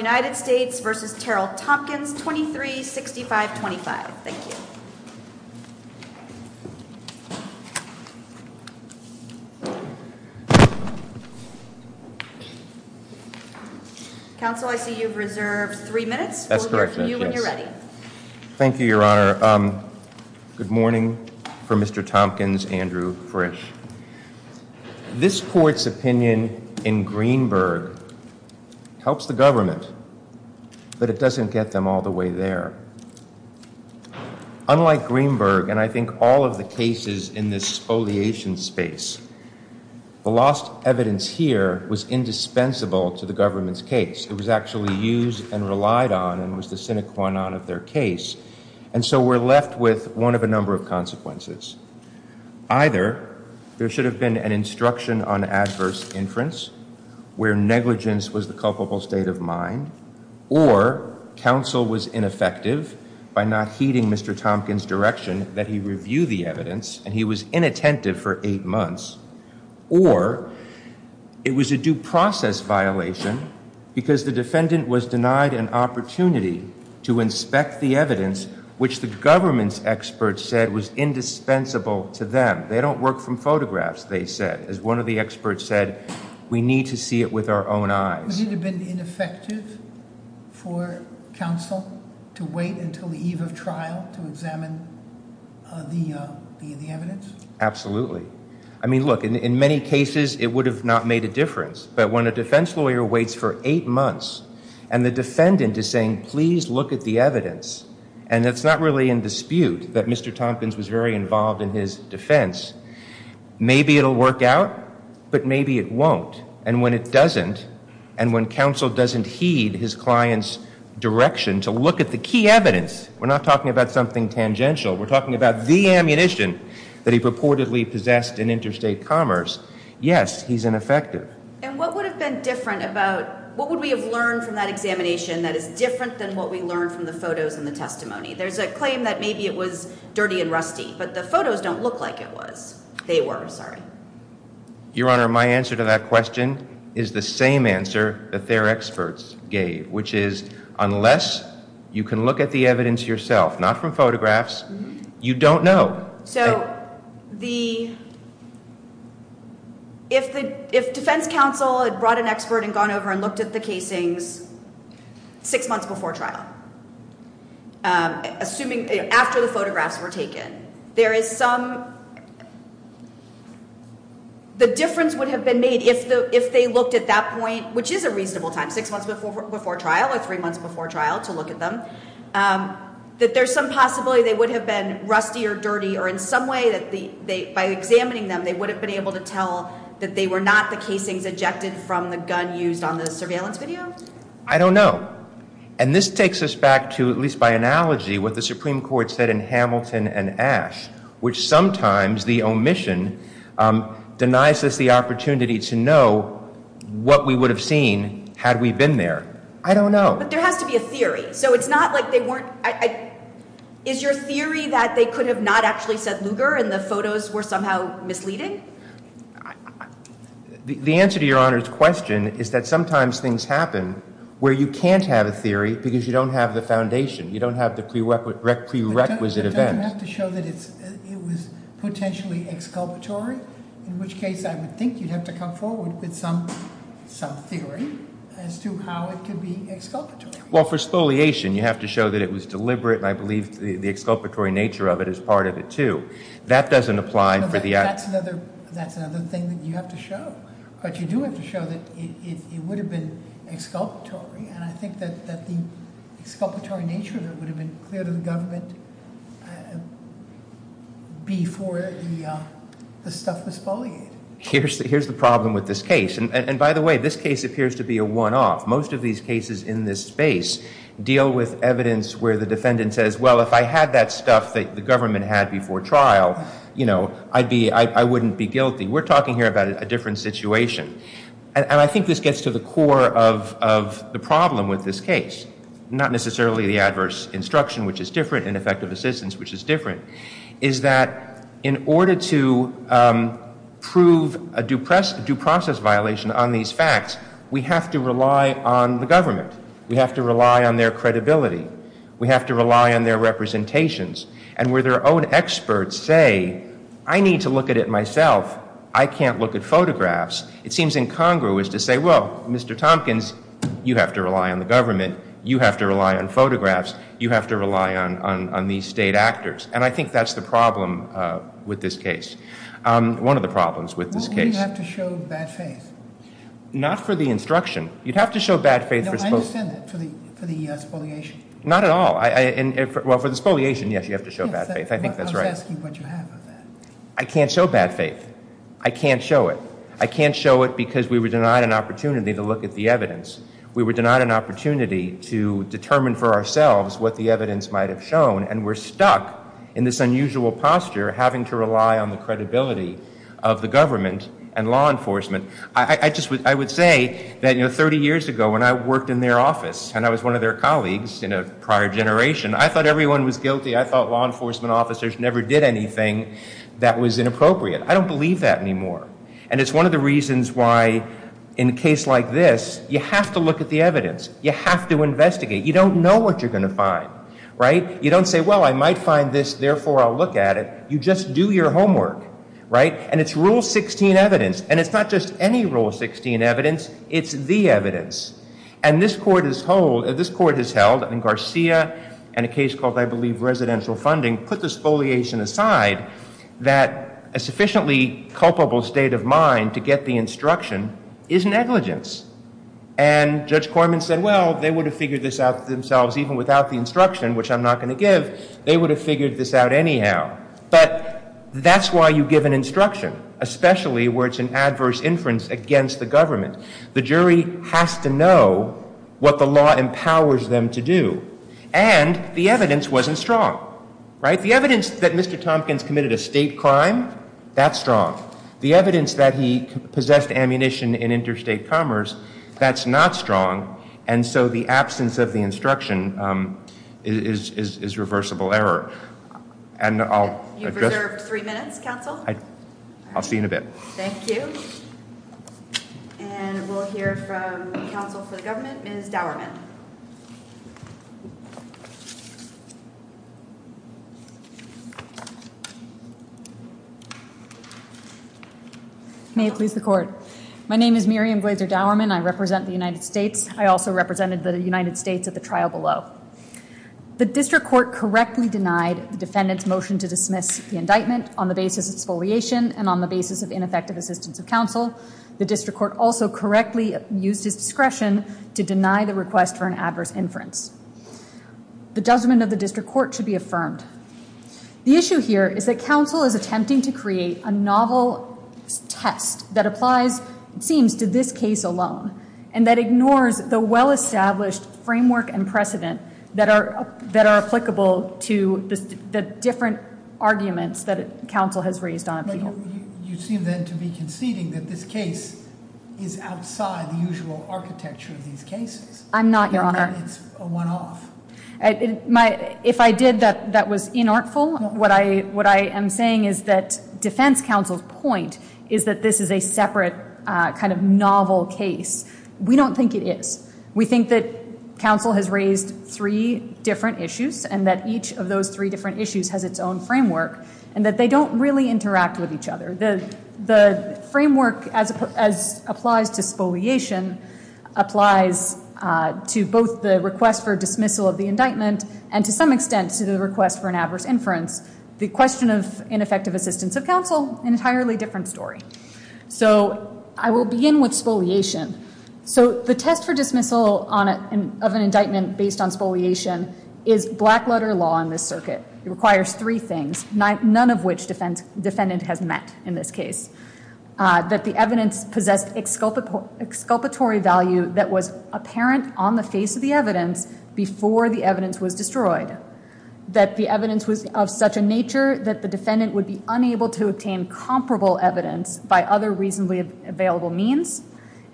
v. Terrell Tompkins, 236525. Thank you. Counsel, I see you've reserved three minutes. We'll go to you when you're ready. Thank you, Your Honor. Good morning. For Mr. Tompkins, Andrew Frisch. This court's opinion in Greenberg helps the government, but it doesn't get them all the way there. Unlike Greenberg, and I think all of the cases in this foliation space, the lost evidence here was indispensable to the government's case. It was actually used and relied on and was the sine qua non of their case. And so we're left with one of a number of consequences. Either there should have been an instruction on adverse inference, where negligence was the culpable state of mind, or counsel was ineffective by not heeding Mr. Tompkins' direction that he review the evidence and he was inattentive for eight months, or it was a due process violation because the defendant was denied an opportunity to inspect the evidence, which the government's said was indispensable to them. They don't work from photographs, they said. As one of the experts said, we need to see it with our own eyes. Would it have been ineffective for counsel to wait until the eve of trial to examine the evidence? Absolutely. I mean, look, in many cases, it would have not made a difference, but when a defense lawyer waits for eight months and the defendant is saying, please look at the evidence, and it's not really in dispute that Mr. Tompkins was very involved in his defense, maybe it'll work out, but maybe it won't. And when it doesn't, and when counsel doesn't heed his client's direction to look at the key evidence, we're not talking about something tangential, we're talking about the ammunition that he purportedly possessed in interstate commerce, yes, he's ineffective. And what would have been different about, what would we have learned from that examination that is different than what we would have learned if it was dirty and rusty? But the photos don't look like it was. They were, sorry. Your Honor, my answer to that question is the same answer that their experts gave, which is, unless you can look at the evidence yourself, not from photographs, you don't know. So the, if the, if defense counsel had brought an expert and gone over and looked at the casings six months before trial, assuming, after the photographs were taken, there is some, the difference would have been made if the, if they looked at that point, which is a reasonable time, six months before trial or three months before trial to look at them, that there's some possibility they would have been rusty or dirty or in some way that they, by examining them, they would have been able to tell that they were not the casings ejected from the gun used on the case. I don't know. And this takes us back to, at least by analogy, what the Supreme Court said in Hamilton and Ashe, which sometimes the omission denies us the opportunity to know what we would have seen had we been there. I don't know. But there has to be a theory. So it's not like they weren't, is your theory that they could have not actually said Lugar and the photos were somehow misleading? The answer to your Honor's question is that sometimes things happen where you can't have a theory because you don't have the foundation. You don't have the prerequisite event. But don't you have to show that it's, it was potentially exculpatory, in which case I would think you'd have to come forward with some, some theory as to how it could be exculpatory. Well, for spoliation, you have to show that it was deliberate and I believe the exculpatory nature of it is part of it too. That doesn't apply for the... That's another, that's another thing that you have to show. But you do have to show that it would have been exculpatory and I think that, that the exculpatory nature of it would have been clear to the government before the, the stuff was foliated. Here's, here's the problem with this case. And by the way, this case appears to be a one-off. Most of these cases in this space deal with evidence where the government had before trial, you know, I'd be, I wouldn't be guilty. We're talking here about a different situation. And I think this gets to the core of, of the problem with this case. Not necessarily the adverse instruction, which is different, ineffective assistance, which is different, is that in order to prove a due process, due process violation on these facts, we have to rely on the government. We have to rely on their credibility. We have to rely on their representations and where their own experts say, I need to look at it myself. I can't look at photographs. It seems incongruous to say, well, Mr. Tompkins, you have to rely on the government. You have to rely on photographs. You have to rely on, on, on these state actors. And I think that's the problem with this case. One of the problems with this case. Well, wouldn't you have to show bad faith? Not for the instruction. You'd have to show bad faith. No, I understand that, for the, for the spoliation. Not at all. Well, for the spoliation, yes, you have to show bad faith. I think that's right. I was asking what you have of that. I can't show bad faith. I can't show it. I can't show it because we were denied an opportunity to look at the evidence. We were denied an opportunity to determine for ourselves what the evidence might have shown. And we're stuck in this unusual posture, having to rely on the credibility of the government and law enforcement. I, I just would, I would say that, you know, 30 years ago when I worked in their office, and I was one of their colleagues in a prior generation, I thought everyone was guilty. I thought law enforcement officers never did anything that was inappropriate. I don't believe that anymore. And it's one of the reasons why, in a case like this, you have to look at the evidence. You have to investigate. You don't know what you're going to find, right? You don't say, well, I might find this, therefore I'll look at it. You just do your homework, right? And it's Rule 16 evidence. And it's not just any Rule 16 evidence. It's the evidence. And this Court has held, and Garcia and a case called, I believe, Residential Funding, put the spoliation aside that a sufficiently culpable state of mind to get the instruction is negligence. And Judge Corman said, well, they would have figured this out themselves, even without the instruction, which I'm not going to give. They would have figured this out anyhow. But that's why you give an instruction, especially where it's an adverse inference against the government. The jury has to know what the law empowers them to do. And the evidence wasn't strong, right? The evidence that Mr. Tompkins committed a state crime, that's strong. The evidence that he possessed ammunition in interstate commerce, that's not strong. And so the absence of the instruction is reversible error. And I'll address... You've reserved three minutes, counsel. I'll see you in a bit. Thank you. And we'll hear from counsel for the government, Ms. Dowerman. May it please the court. My name is Miriam Glazer Dowerman. I represent the United States. I also represented the United States at the trial below. The district court correctly denied the defendant's motion to dismiss the indictment on the basis of spoliation and on the basis of ineffective assistance of counsel. The district court also correctly used his discretion to deny the request for an adverse inference. The judgment of the district court should be affirmed. The issue here is that counsel is attempting to create a novel test that applies, it seems, to this case alone and that ignores the well-established framework and precedent that are applicable to the different arguments that counsel has raised on appeal. You seem then to be conceding that this case is outside the usual architecture of these cases. I'm not, your honor. If I did, that was inartful. What I am saying is that defense counsel's point is that this is a separate kind of novel case. We don't think it is. We think that counsel has raised three different issues and that each of those three different issues has its own framework and that they don't really interact with each other. The framework, as applies to spoliation, applies to both the request for dismissal of the indictment and to some extent to the request for an adverse inference. The question of ineffective assistance of counsel, an entirely different story. So I will begin with spoliation. So the test for dismissal of an indictment based on spoliation is black letter law in this circuit. It requires three things, none of which defendant has met in this case. That the evidence possessed exculpatory value that was apparent on the face of the evidence before the evidence was destroyed. That the evidence was of such a nature that the defendant would be unable to obtain comparable evidence by other reasonably available means.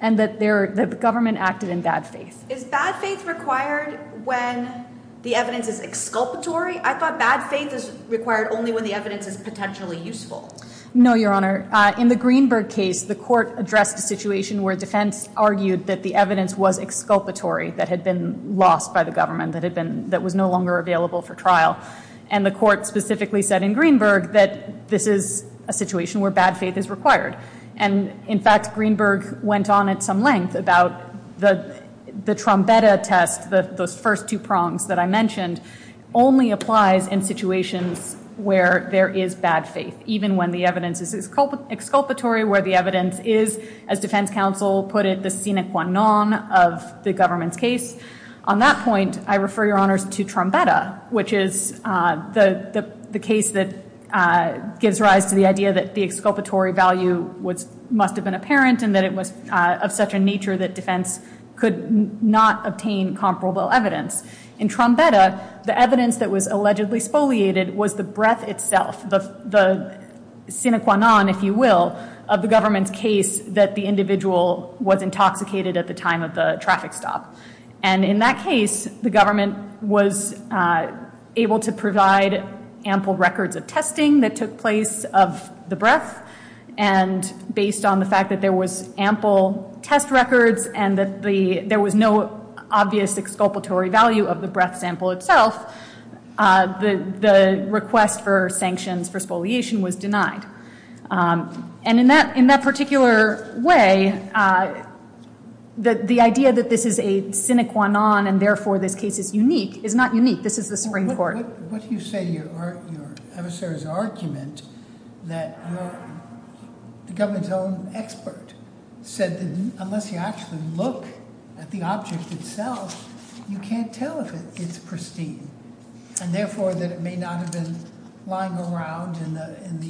And that the government acted in bad faith. Is bad faith required when the evidence is exculpatory? I thought bad faith is required only when the evidence is potentially useful. No, Your Honor. In the Greenberg case, the court addressed a situation where defense argued that the evidence was exculpatory, that had been lost by the government, that was no longer available for trial. And the court specifically said in Greenberg that this is a situation where bad is required. And in fact, Greenberg went on at some length about the Trombetta test, those first two prongs that I mentioned, only applies in situations where there is bad faith. Even when the evidence is exculpatory, where the evidence is, as defense counsel put it, the sine qua non of the government's case. On that point, I refer, Your Honors, to Trombetta, which is the case that gives rise to the idea that the exculpatory value must have been apparent, and that it was of such a nature that defense could not obtain comparable evidence. In Trombetta, the evidence that was allegedly spoliated was the breath itself, the sine qua non, if you will, of the government's case that the individual was intoxicated at the time of the traffic stop. And in that case, the government was able to provide ample records of testing that took place of the breath. And based on the fact that there was ample test records and that there was no obvious exculpatory value of the breath sample itself, the request for sanctions for spoliation was denied. And in that particular way, the idea that this is a sine qua non, and therefore this case is unique, is not unique. This is the Supreme Court. What do you say to your adversary's argument that the government's own expert said that unless you actually look at the object itself, you can't tell if it's pristine, and therefore that it may not have been lying around in the in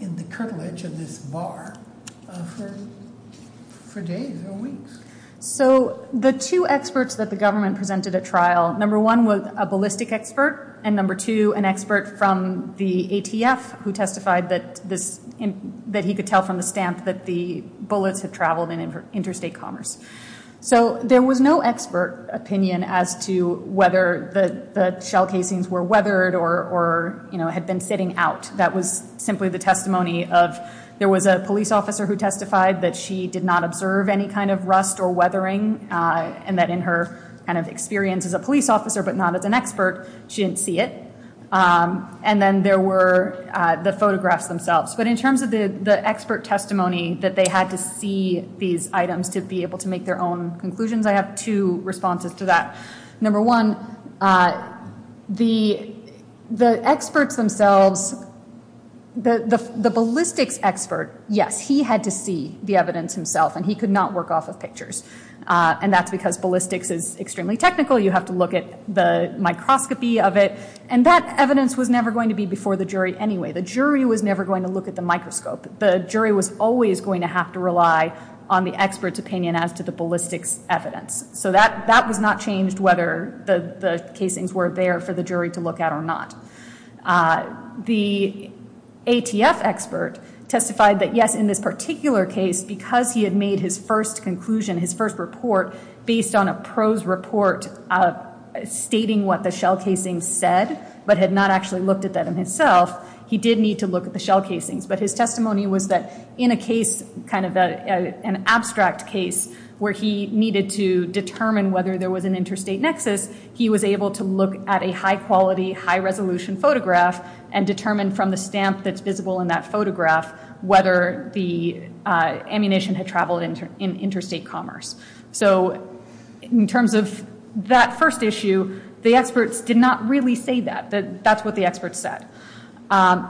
the curtilage of this bar for days or weeks? So the two experts that the government presented at trial, number one was a ballistic expert, and number two, an expert from the ATF who testified that he could tell from the stamp that the bullets had traveled in interstate commerce. So there was no expert opinion as to whether the shell casings were weathered or, you know, had been sitting out. That was simply the testimony of there was a police officer who testified that she did not observe any kind of rust or weathering, and that in her kind of experience as a police officer, but not as an expert, she didn't see it. And then there were the photographs themselves. But in terms of the expert testimony that they had to see these items to be able to make their own conclusions, I have two responses to that. Number one, the experts themselves, the ballistics expert, yes, he had to see the evidence himself, and he could not work off of pictures. And that's because ballistics is extremely technical. You have to look at the microscopy of it, and that evidence was never going to be before the jury anyway. The jury was never going to look at the microscope. The jury was always going to have to rely on the expert's opinion as to the ballistics evidence. So that was not changed whether the casings were there for the jury to look at or not. The ATF expert testified that, yes, in this particular case, because he had made his first conclusion, his first report based on a prose report stating what the shell casing said, but had not actually looked at that in himself, he did need to look at the shell casings. But his testimony was that in a case, kind of an abstract case, where he needed to determine whether there was an interstate nexus, he was able to look at a high-quality, high-resolution photograph and determine from the stamp that's visible in that photograph whether the ammunition had traveled in interstate commerce. So in terms of that first issue, the experts did not really say that. That's what the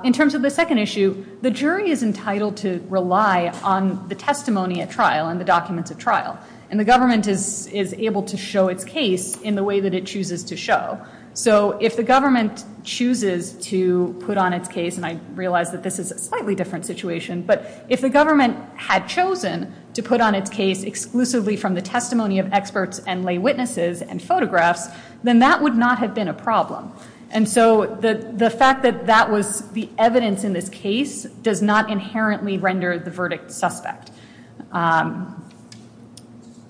In terms of the second issue, the jury is entitled to rely on the testimony at trial and the documents at trial. And the government is able to show its case in the way that it chooses to show. So if the government chooses to put on its case, and I realize that this is a slightly different situation, but if the government had chosen to put on its case exclusively from the testimony of experts and lay witnesses and photographs, then that would not have been a problem. And so the fact that that was the evidence in this case does not inherently render the verdict suspect.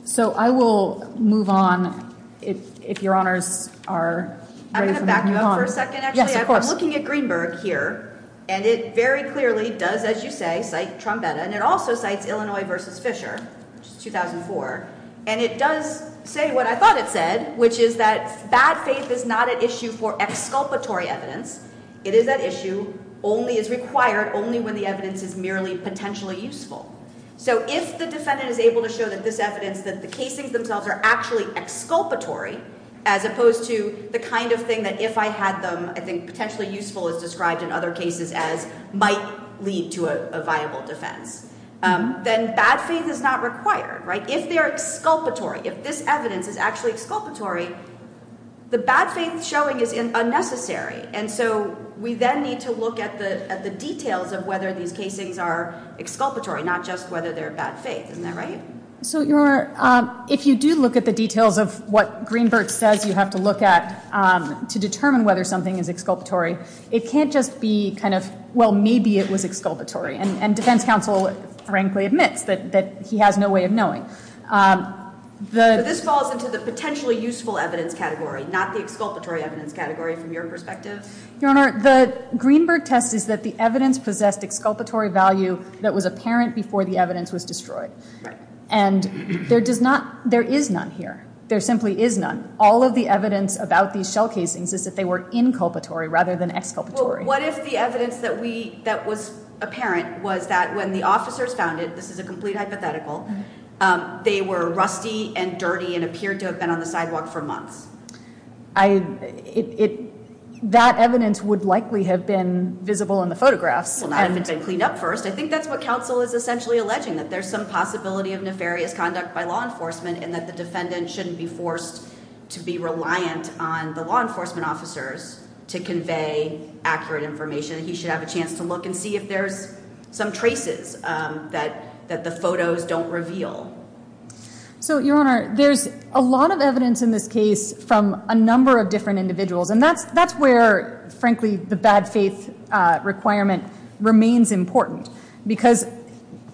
So I will move on if your honors are ready. I'm going to back you up for a second. Actually, I'm looking at Greenberg here, and it very clearly does, as you say, cite Trumpetta. And it also cites Illinois v. Fisher, which is 2004. And it does say what I for exculpatory evidence. It is that issue only is required only when the evidence is merely potentially useful. So if the defendant is able to show that this evidence, that the casings themselves are actually exculpatory, as opposed to the kind of thing that if I had them, I think potentially useful as described in other cases as might lead to a viable defense, then bad faith is not required, right? If they're exculpatory, if this evidence is actually exculpatory, the bad faith showing is unnecessary. And so we then need to look at the details of whether these casings are exculpatory, not just whether they're bad faith. Isn't that right? So your honor, if you do look at the details of what Greenberg says you have to look at to determine whether something is exculpatory, it can't just be kind of, well, maybe it was exculpatory. And defense counsel frankly admits that he has no way of knowing. So this falls into the potentially useful evidence category, not the exculpatory evidence category from your perspective? Your honor, the Greenberg test is that the evidence possessed exculpatory value that was apparent before the evidence was destroyed. And there is none here. There simply is none. All of the evidence about these shell casings is that they were inculpatory rather than exculpatory. Well, what if the evidence that was apparent was that when the officers found it, this is a complete hypothetical, they were rusty and dirty and appeared to have been on the sidewalk for months. That evidence would likely have been visible in the photographs. Well, not if it's been cleaned up first. I think that's what counsel is essentially alleging that there's some possibility of nefarious conduct by law enforcement and that the defendant shouldn't be forced to be reliant on the law enforcement officers to convey accurate information. He should have a chance to look and see if there's some traces that the photos don't reveal. So your honor, there's a lot of evidence in this case from a number of different individuals. And that's where, frankly, the bad faith requirement remains important because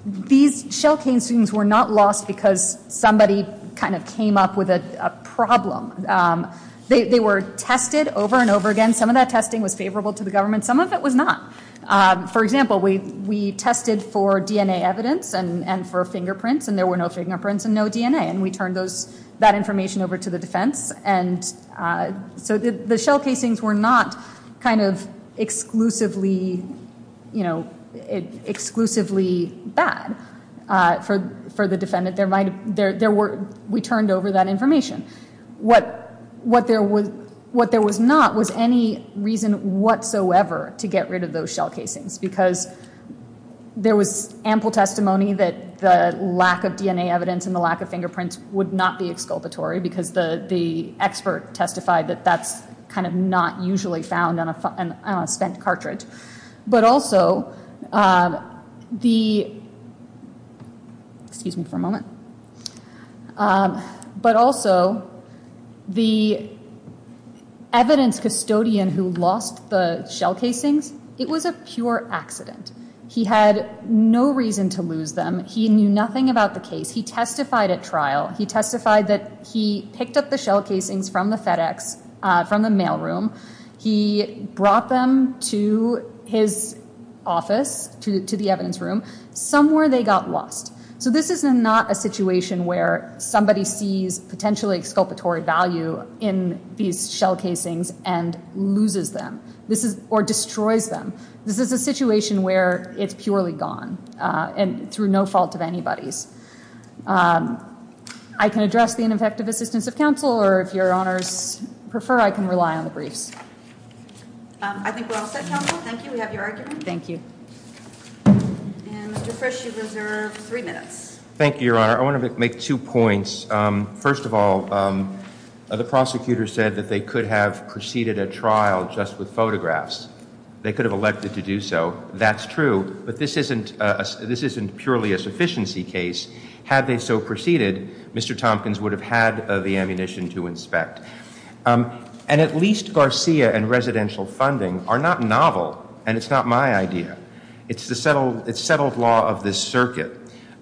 these shell casings were not lost because somebody kind of came up with a problem. They were tested over and over again. Some of that testing was favorable to government. Some of it was not. For example, we tested for DNA evidence and for fingerprints, and there were no fingerprints and no DNA. And we turned that information over to the defense. And so the shell casings were not kind of exclusively bad for the defendant. We turned over that information. What there was not was any reason whatsoever to get rid of those shell casings because there was ample testimony that the lack of DNA evidence and the lack of fingerprints would not be exculpatory because the expert testified that that's kind of not found on a spent cartridge. But also the evidence custodian who lost the shell casings, it was a pure accident. He had no reason to lose them. He knew nothing about the case. He testified at trial. He testified that he picked up the shell casings from the FedEx, from the mail room. He brought them to his office, to the evidence room. Somewhere they got lost. So this is not a situation where somebody sees potentially exculpatory value in these shell casings and loses them or destroys them. This is a situation where it's purely gone and through no fault of anybody's. I can address the ineffective assistance of counsel or if your honors prefer, I can rely on the briefs. I think we're all set, counsel. Thank you. We have your argument. Thank you. And Mr. Frisch, you reserve three minutes. Thank you, your honor. I want to make two points. First of all, the prosecutor said that they could have preceded a trial just with photographs. They could have elected to do so. That's true. But this isn't purely a sufficiency case. Had they so preceded, Mr. Tompkins would have had the ammunition to inspect. And at least Garcia and residential funding are not novel and it's not my idea. It's the settled law of this circuit.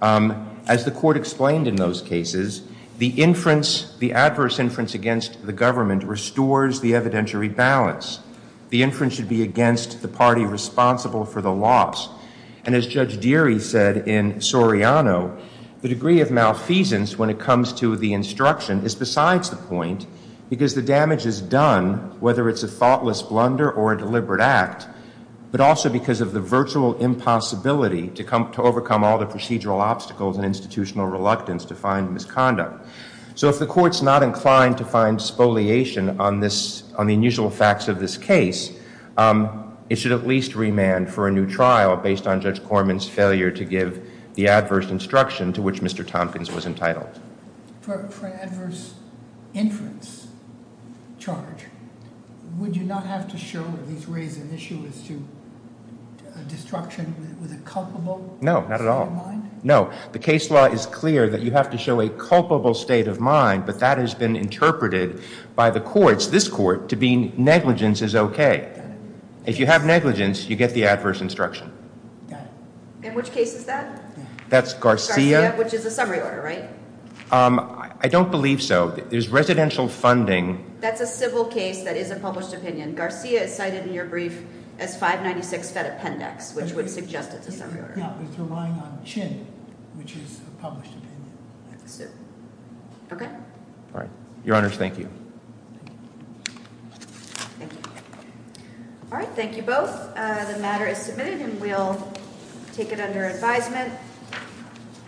As the court explained in those cases, the inference, the adverse inference against the government restores the evidentiary balance. The inference should be against the party responsible for the loss. And as Judge Deary said in Soriano, the degree of malfeasance when it comes to the instruction is besides the point because the damage is done whether it's a thoughtless blunder or a deliberate act, but also because of the virtual impossibility to come to overcome all the procedural obstacles and institutional reluctance to find misconduct. So if the court's not inclined to find spoliation on this, on the unusual facts of this case, it should at least remand for a new trial based on Judge Corman's failure to give the adverse instruction to which Mr. Tompkins was entitled. For an adverse inference charge, would you not have to show or at least raise an issue as to destruction with a culpable? No, not at all. No, the case law is clear that you have to show a culpable state of mind, but that has been interpreted by the courts, this court, to be negligence is okay. If you have negligence, you get the adverse instruction. In which case is that? That's Garcia. Which is a summary order, right? I don't believe so. There's residential funding. That's a civil case that is a published opinion. Garcia is cited in your brief as 596 Fed Appendix, which would suggest it's a summary order. No, it's relying on CHIN, which is a published opinion. Okay. All right. Your Honors, thank you. Thank you. All right. Thank you both. The matter is submitted and we'll take it under advisement.